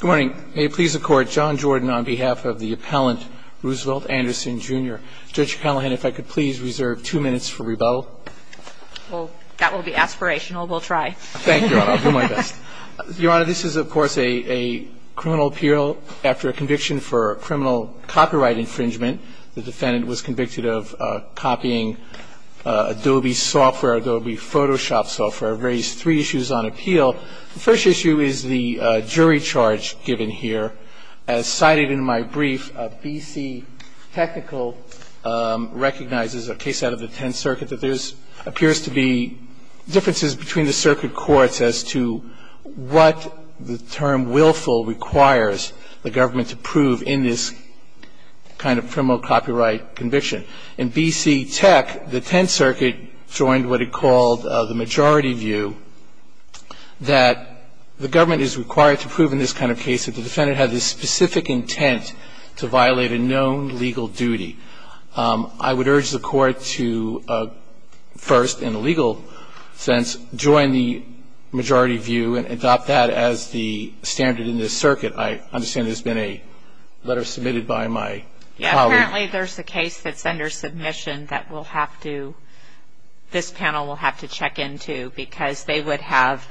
Good morning. May it please the Court, John Jordan on behalf of the appellant Roosevelt Anderson, Jr. Judge Callahan, if I could please reserve two minutes for rebuttal. Well, that will be aspirational. We'll try. Thank you, Your Honor. I'll do my best. Your Honor, this is, of course, a criminal appeal after a conviction for criminal copyright infringement. The defendant was convicted of copying Adobe software, Adobe Photoshop software, raised three issues on appeal. The first issue is the jury charge given here. As cited in my brief, B.C. Technical recognizes a case out of the Tenth Circuit that there appears to be differences between the circuit courts as to what the term willful requires the government to prove in this kind of criminal copyright conviction. In B.C. Tech, the Tenth Circuit joined what it called the majority view, that the government is required to prove in this kind of case that the defendant had the specific intent to violate a known legal duty. I would urge the Court to first, in a legal sense, join the majority view and adopt that as the standard in this circuit. I understand there's been a letter submitted by my colleague. Apparently, there's a case that's under submission that we'll have to, this panel will have to check into because they would have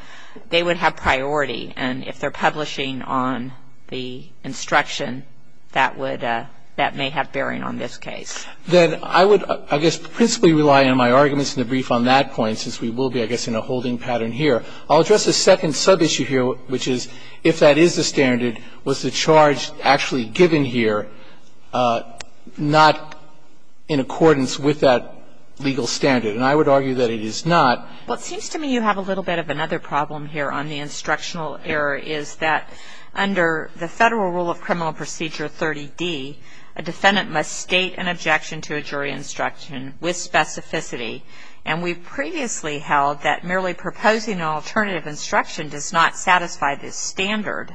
priority. And if they're publishing on the instruction, that may have bearing on this case. Then I would, I guess, principally rely on my arguments in the brief on that point since we will be, I guess, in a holding pattern here. I'll address the second sub-issue here, which is if that is the standard, was the charge actually given here not in accordance with that legal standard? And I would argue that it is not. Well, it seems to me you have a little bit of another problem here on the instructional error is that under the Federal Rule of Criminal Procedure 30D, a defendant must state an objection to a jury instruction with specificity. And we've previously held that merely proposing an alternative instruction does not satisfy this standard.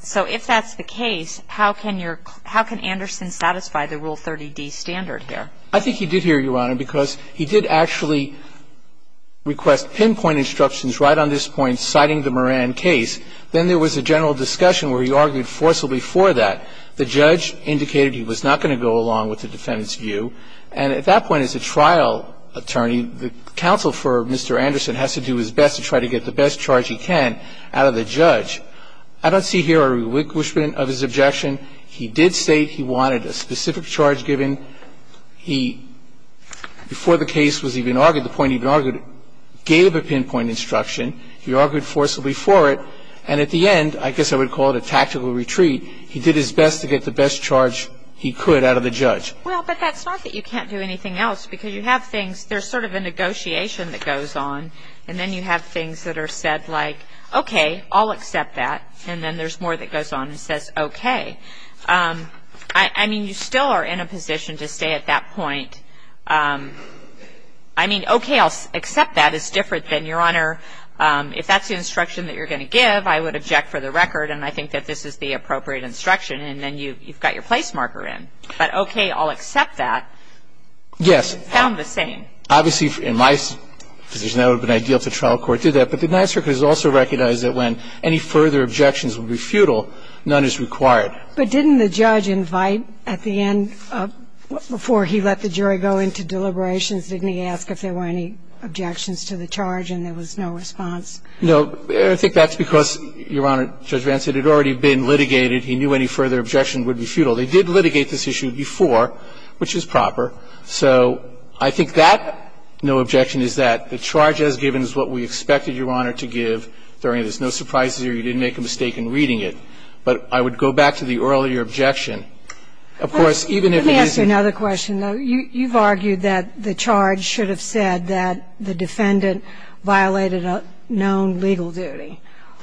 So if that's the case, how can your, how can Anderson satisfy the Rule 30D standard here? I think he did here, Your Honor, because he did actually request pinpoint instructions right on this point citing the Moran case. Then there was a general discussion where he argued forcibly for that. The judge indicated he was not going to go along with the defendant's view. And at that point, as a trial attorney, the counsel for Mr. Anderson has to do his best to try to get the best charge he can out of the judge. I don't see here a relinquishment of his objection. He did state he wanted a specific charge given. He, before the case was even argued, the point even argued, gave a pinpoint instruction. He argued forcibly for it. And at the end, I guess I would call it a tactical retreat. He did his best to get the best charge he could out of the judge. Well, but that's not that you can't do anything else, because you have things that are said like, okay, I'll accept that. And then there's more that goes on and says, okay. I mean, you still are in a position to stay at that point. I mean, okay, I'll accept that is different than, Your Honor, if that's the instruction that you're going to give, I would object for the record and I think that this is the appropriate instruction. And then you've got your place marker in. But okay, I'll accept that. Yes. The court has found the same. Obviously, in my position, that would have been ideal if the trial court did that. But the Ninth Circuit has also recognized that when any further objections would be futile, none is required. But didn't the judge invite at the end, before he let the jury go into deliberations, didn't he ask if there were any objections to the charge and there was no response? No. I think that's because, Your Honor, Judge Vance had already been litigated. He knew any further objection would be futile. They did litigate this issue before, which is proper. So I think that no objection is that. The charge as given is what we expected, Your Honor, to give. There is no surprise here. You didn't make a mistake in reading it. But I would go back to the earlier objection. Of course, even if it is the other question, though, you've argued that the charge should have said that the defendant violated a known legal duty.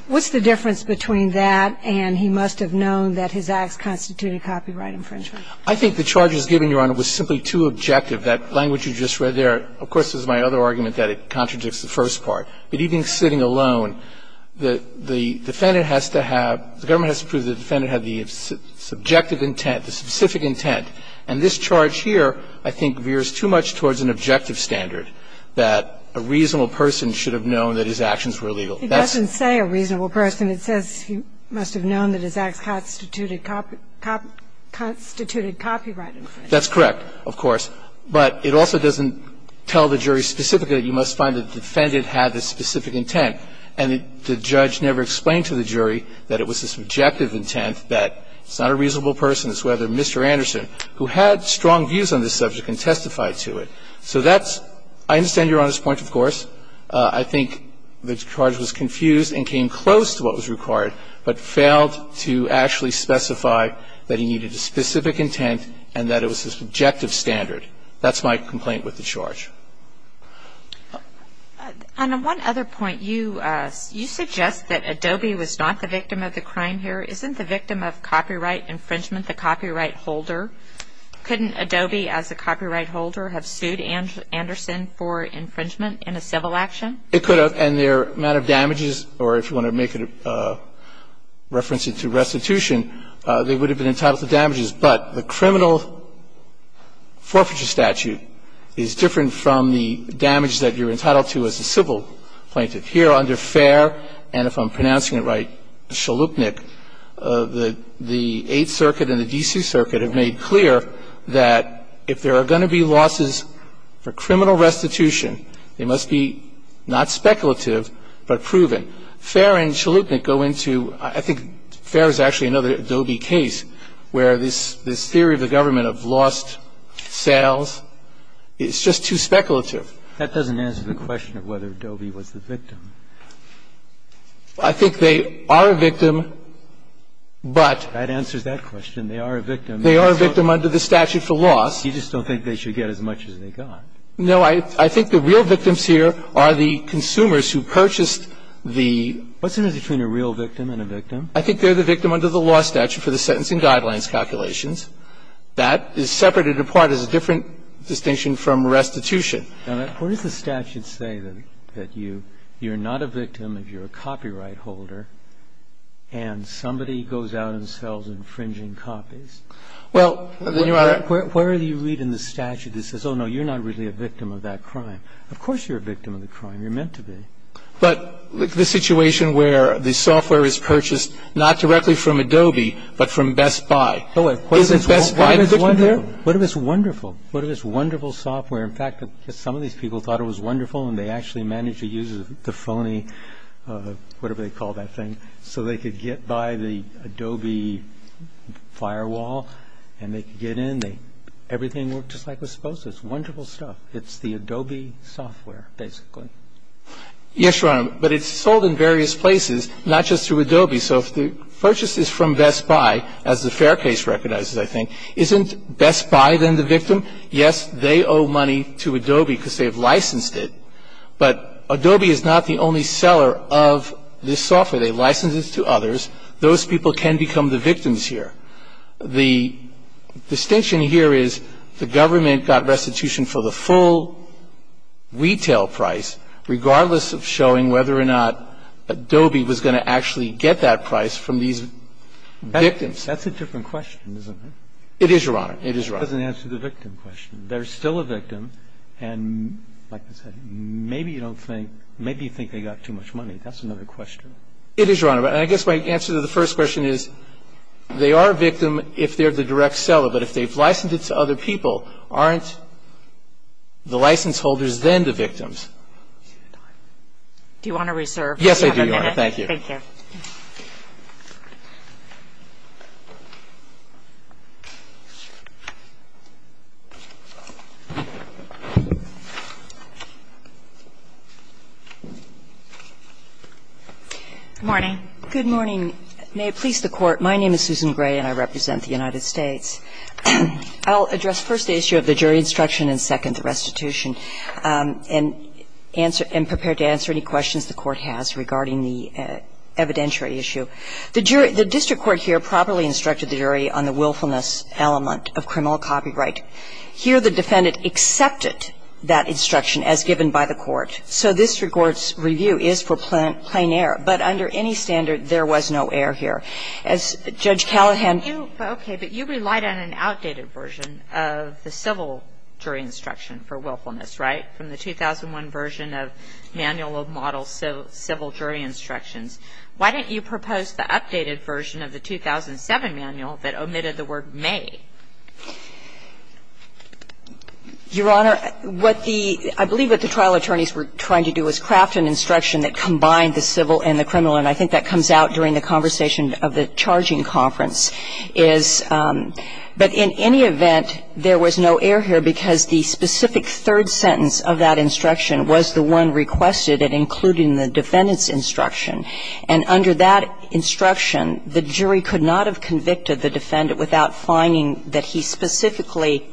What's the difference between that and he must have known that his acts constituted copyright infringement? I think the charge as given, Your Honor, was simply too objective. That language you just read there, of course, is my other argument, that it contradicts the first part. But even sitting alone, the defendant has to have the government has to prove the defendant had the subjective intent, the specific intent. And this charge here, I think, veers too much towards an objective standard, that a reasonable person should have known that his actions were illegal. He doesn't say a reasonable person. And it says he must have known that his acts constituted copyright infringement. That's correct, of course. But it also doesn't tell the jury specifically that you must find the defendant had the specific intent. And the judge never explained to the jury that it was the subjective intent, that it's not a reasonable person, it's rather Mr. Anderson, who had strong views on this subject and testified to it. So that's – I understand Your Honor's point, of course. I think the charge was confused and came close to what was required, but failed to actually specify that he needed a specific intent and that it was a subjective standard. That's my complaint with the charge. And on one other point, you suggest that Adobe was not the victim of the crime here. Isn't the victim of copyright infringement the copyright holder? Couldn't Adobe, as a copyright holder, have sued Anderson for infringement in a civil action? It could have. And their amount of damages, or if you want to make a reference to restitution, they would have been entitled to damages. But the criminal forfeiture statute is different from the damage that you're entitled to as a civil plaintiff. Here under Fair, and if I'm pronouncing it right, Chalupnik, the Eighth Circuit and the D.C. Circuit have made clear that if there are going to be losses for criminal restitution, they must be not speculative, but proven. Fair and Chalupnik go into – I think Fair is actually another Adobe case where this theory of the government of lost sales is just too speculative. That doesn't answer the question of whether Adobe was the victim. I think they are a victim, but – That answers that question. They are a victim. They are a victim under the statute for loss. You just don't think they should get as much as they got. No. I think the real victims here are the consumers who purchased the – What's the difference between a real victim and a victim? I think they're the victim under the law statute for the sentencing guidelines calculations. That is separated apart as a different distinction from restitution. Now, what does the statute say that you – you're not a victim if you're a copyright holder and somebody goes out and sells infringing copies? Well – Where do you read in the statute that says, oh, no, you're not really a victim of that crime? Of course you're a victim of the crime. You're meant to be. But the situation where the software is purchased not directly from Adobe, but from Best Buy. Oh, of course. Isn't Best Buy the victim here? What if it's wonderful? What if it's wonderful software? In fact, some of these people thought it was wonderful and they actually managed to use the phony – whatever they call that thing – so they could get by the everything worked just like it was supposed to. It's wonderful stuff. It's the Adobe software, basically. Yes, Your Honor. But it's sold in various places, not just through Adobe. So if the purchase is from Best Buy, as the fair case recognizes, I think, isn't Best Buy then the victim? Yes, they owe money to Adobe because they've licensed it. But Adobe is not the only seller of this software. They license it to others. Those people can become the victims here. The distinction here is the government got restitution for the full retail price, regardless of showing whether or not Adobe was going to actually get that price from these victims. That's a different question, isn't it? It is, Your Honor. It is, Your Honor. That doesn't answer the victim question. They're still a victim. And, like I said, maybe you think they got too much money. That's another question. It is, Your Honor. And I guess my answer to the first question is they are a victim if they're the direct seller. But if they've licensed it to other people, aren't the license holders then the victims? Do you want to reserve? Yes, I do, Your Honor. Thank you. Thank you. Good morning. Good morning. May it please the Court, my name is Susan Gray and I represent the United States. I'll address first the issue of the jury instruction and, second, the restitution and prepare to answer any questions the Court has regarding the evidentiary issue. The jury the district court here properly instructed the jury on the willfulness element of criminal copyright. Here the defendant accepted that instruction as given by the court. So this court's review is for plain error. But under any standard, there was no error here. As Judge Callahan. Okay. But you relied on an outdated version of the civil jury instruction for willfulness, right? From the 2001 version of manual of model civil jury instructions. Why didn't you propose the updated version of the 2007 manual that omitted the word may? Your Honor, what the ‑‑ I believe what the trial attorneys were trying to do was craft an instruction that combined the civil and the criminal. And I think that comes out during the conversation of the charging conference is ‑‑ but in any event, there was no error here because the specific third sentence of that instruction was the one requested and including the defendant's instruction. And under that instruction, the jury could not have convicted the defendant without finding that he specifically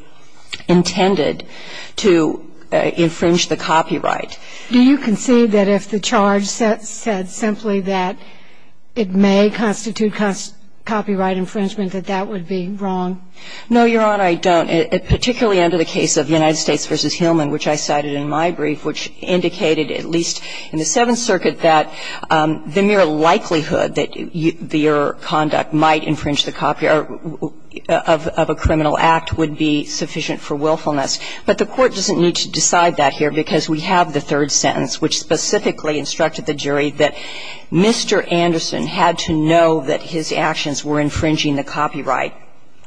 intended to infringe the copyright. Do you concede that if the charge said simply that it may constitute copyright infringement, that that would be wrong? No, Your Honor, I don't. Particularly under the case of United States v. Hillman, which I cited in my brief, which indicated at least in the Seventh Circuit that the mere likelihood that the error of conduct might infringe the copyright of a criminal act would be sufficient for willfulness. But the court doesn't need to decide that here because we have the third sentence which specifically instructed the jury that Mr. Anderson had to know that his actions were infringing the copyright.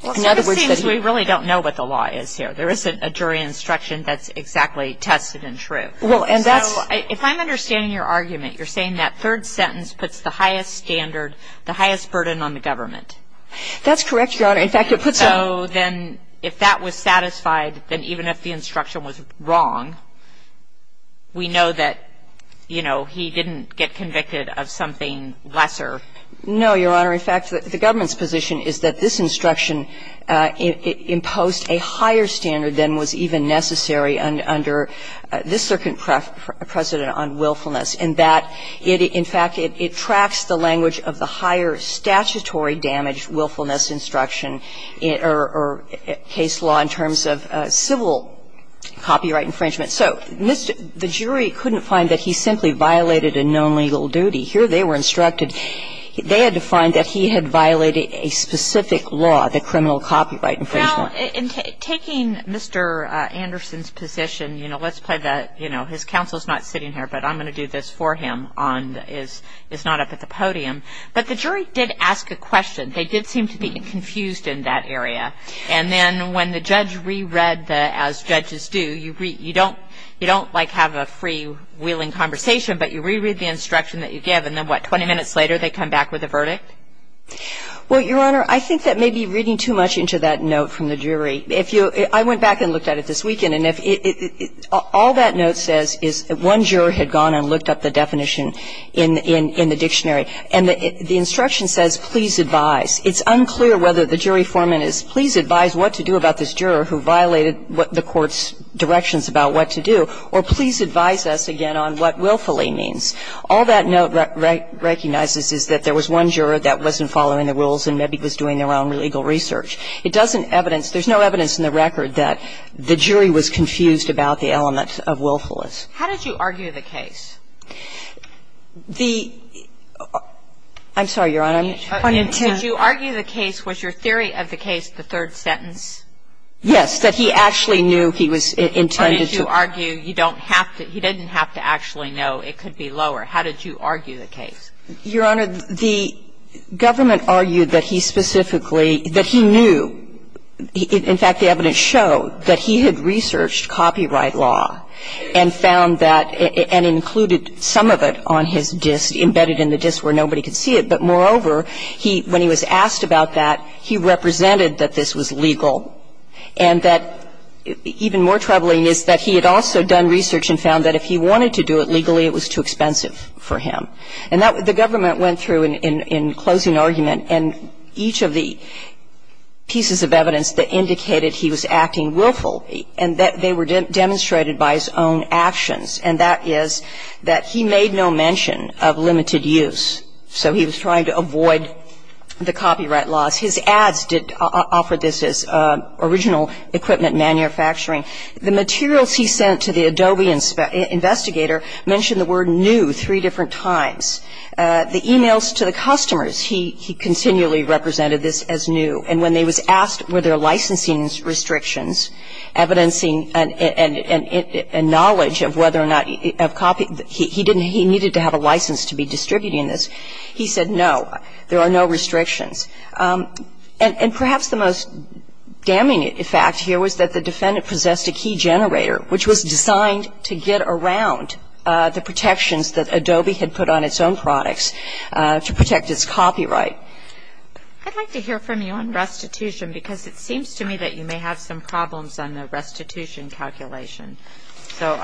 Well, it seems we really don't know what the law is here. There isn't a jury instruction that's exactly tested and true. Well, and that's ‑‑ So if I'm understanding your argument, you're saying that third sentence puts the highest standard, the highest burden on the government. That's correct, Your Honor. In fact, it puts a ‑‑ So then if that was satisfied, then even if the instruction was wrong, we know that, you know, he didn't get convicted of something lesser. No, Your Honor. In fact, the government's position is that this instruction imposed a higher standard than was even necessary under this circuit precedent on willfulness, and that it ‑‑ And the jury didn't find that he violated a known legal duty. Here they were instructed ‑‑ they had to find that he had violated a specific law, the criminal copyright infringement. Well, in taking Mr. Anderson's position, you know, let's play that, you know, his counsel is not sitting here, but I'm going to do this for him on ‑‑ is not up at the podium. But the jury did ask a question. They did seem to be confused in that area. And then when the judge reread the, as judges do, you don't like have a freewheeling conversation, but you reread the instruction that you give, and then what, 20 minutes later they come back with a verdict? Well, Your Honor, I think that may be reading too much into that note from the jury. If you ‑‑ I went back and looked at it this weekend, and all that note says is one juror had gone and looked up the definition in the dictionary, and the instruction says, please advise. It's unclear whether the jury foreman is, please advise what to do about this juror who violated the court's directions about what to do, or please advise us again on what willfully means. All that note recognizes is that there was one juror that wasn't following the rules and maybe was doing their own legal research. It doesn't evidence ‑‑ there's no evidence in the record that the jury was confused about the element of willfulness. How did you argue the case? The ‑‑ I'm sorry, Your Honor, I'm trying to ‑‑ Did you argue the case, was your theory of the case the third sentence? Yes, that he actually knew he was intended to ‑‑ Or did you argue you don't have to ‑‑ he didn't have to actually know it could be lower. How did you argue the case? Your Honor, the government argued that he specifically, that he knew, in fact, the evidence showed that he had researched copyright law and found that, and included some of it on his disk, embedded in the disk where nobody could see it. But moreover, he, when he was asked about that, he represented that this was legal and that, even more troubling, is that he had also done research and found that if he wanted to do it legally, it was too expensive for him. And that, the government went through in closing argument, and each of the pieces of evidence that indicated he was acting willful, and that they were demonstrated by his own actions. And that is that he made no mention of limited use. So he was trying to avoid the copyright laws. His ads did offer this as original equipment manufacturing. The materials he sent to the Adobe investigator mentioned the word new three different times. The e-mails to the customers, he continually represented this as new. And when they were asked were there licensing restrictions, evidencing and knowledge of whether or not he needed to have a license to be distributing this, he said no, there are no restrictions. And perhaps the most damning fact here was that the defendant possessed a key generator, which was designed to get around the protections that Adobe had put on its own products to protect its copyright. I'd like to hear from you on restitution, because it seems to me that you may have some problems on the restitution calculation. So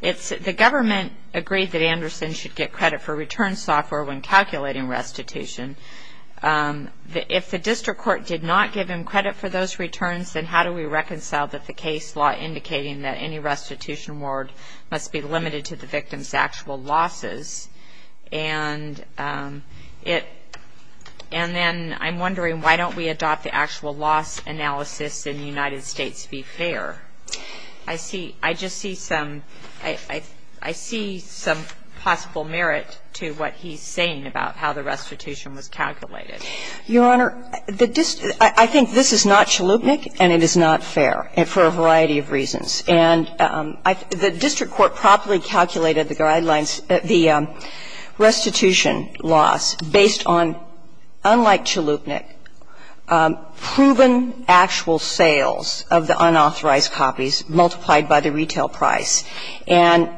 the government agreed that Anderson should get credit for return software when calculating restitution. If the district court did not give him credit for those returns, then how do we reconcile that the case law indicating that any restitution award must be limited to the victim's actual losses? And it – and then I'm wondering why don't we adopt the actual loss analysis in the United States to be fair? I see – I just see some – I see some possible merit to what he's saying about how the restitution was calculated. Your Honor, the district – I think this is not chalupnik and it is not fair for a variety of reasons. And the district court properly calculated the guidelines, the restitution loss, based on, unlike chalupnik, proven actual sales of the unauthorized copies multiplied by the retail price. And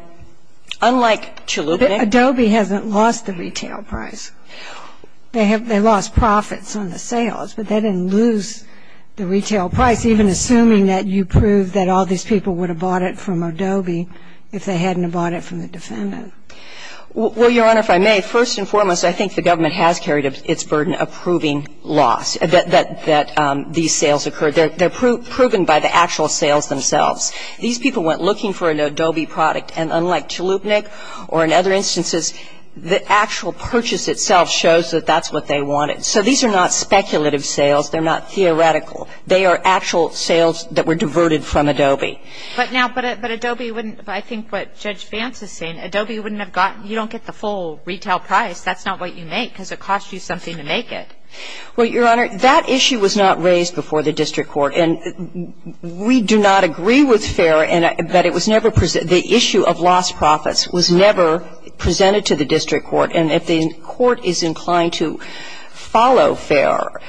unlike chalupnik – But Adobe hasn't lost the retail price. They have – they lost profits on the sales, but they didn't lose the retail price, So it's even assuming that you prove that all these people would have bought it from Adobe if they hadn't have bought it from the defendant. Well, Your Honor, if I may, first and foremost, I think the government has carried its burden of proving loss, that these sales occurred. They're proven by the actual sales themselves. These people went looking for an Adobe product, and unlike chalupnik or in other But now, but Adobe wouldn't – I think what Judge Vance is saying, Adobe wouldn't have gotten – you don't get the full retail price. That's not what you make because it costs you something to make it. Well, Your Honor, that issue was not raised before the district court. And we do not agree with FAIR, but it was never – the issue of lost profits was never presented to the district court. And if the court is inclined to follow FAIR,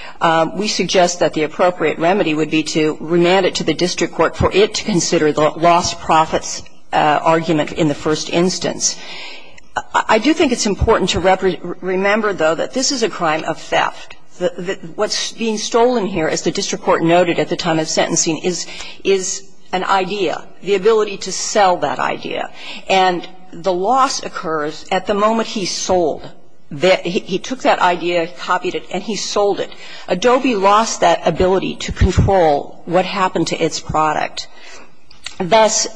we suggest that the appropriate remedy would be to remand it to the district court for it to consider the lost profits argument in the first instance. I do think it's important to remember, though, that this is a crime of theft. What's being stolen here, as the district court noted at the time of sentencing, is an idea, the ability to sell that idea. And the loss occurs at the moment he sold. He took that idea, copied it, and he sold it. Adobe lost that ability to control what happened to its product. Thus,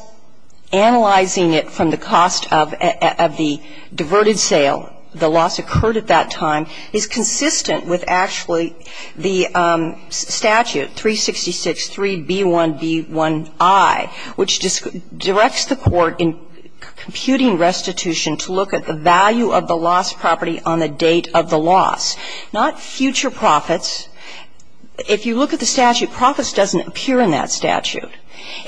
analyzing it from the cost of the diverted sale, the loss occurred at that time, is consistent with actually the statute, 366.3b1b1i, which directs the court in computing restitution to look at the value of the lost property on the date of the loss. Now, if you look at the statute, profits doesn't appear in that statute.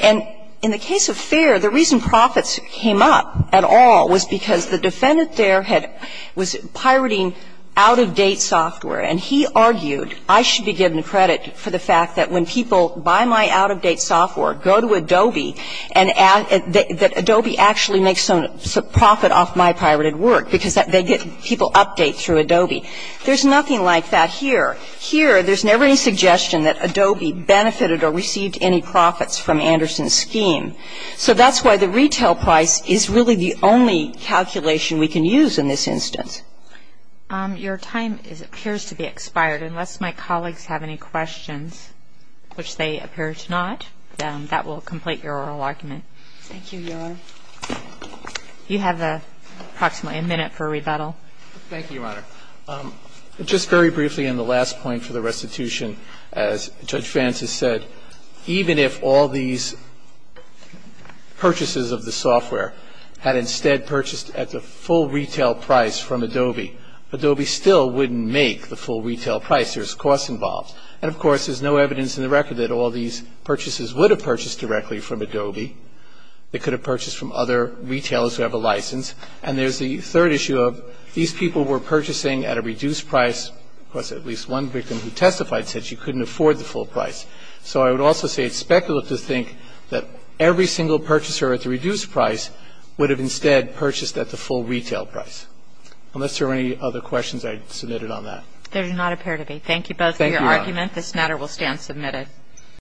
And in the case of FAIR, the reason profits came up at all was because the defendant there had was pirating out-of-date software, and he argued, I should be given credit for the fact that when people buy my out-of-date software, go to Adobe, and that Adobe actually makes some profit off my pirated work because they get people update through Adobe. There's nothing like that here. Here, there's never any suggestion that Adobe benefited or received any profits from Anderson's scheme. So that's why the retail price is really the only calculation we can use in this instance. Your time appears to be expired. Unless my colleagues have any questions, which they appear to not, that will complete your oral argument. Thank you, Your Honor. You have approximately a minute for rebuttal. Thank you, Your Honor. Just very briefly, and the last point for the restitution, as Judge Vance has said, even if all these purchases of the software had instead purchased at the full retail price from Adobe, Adobe still wouldn't make the full retail price. There's costs involved. And, of course, there's no evidence in the record that all these purchases would have purchased directly from Adobe. They could have purchased from other retailers who have a license. And there's the third issue of these people were purchasing at a reduced price. Of course, at least one victim who testified said she couldn't afford the full price. So I would also say it's speculative to think that every single purchaser at the reduced price would have instead purchased at the full retail price. Unless there are any other questions, I'd submit it on that. There do not appear to be. Thank you both for your argument. Thank you, Your Honor. This matter will stand submitted.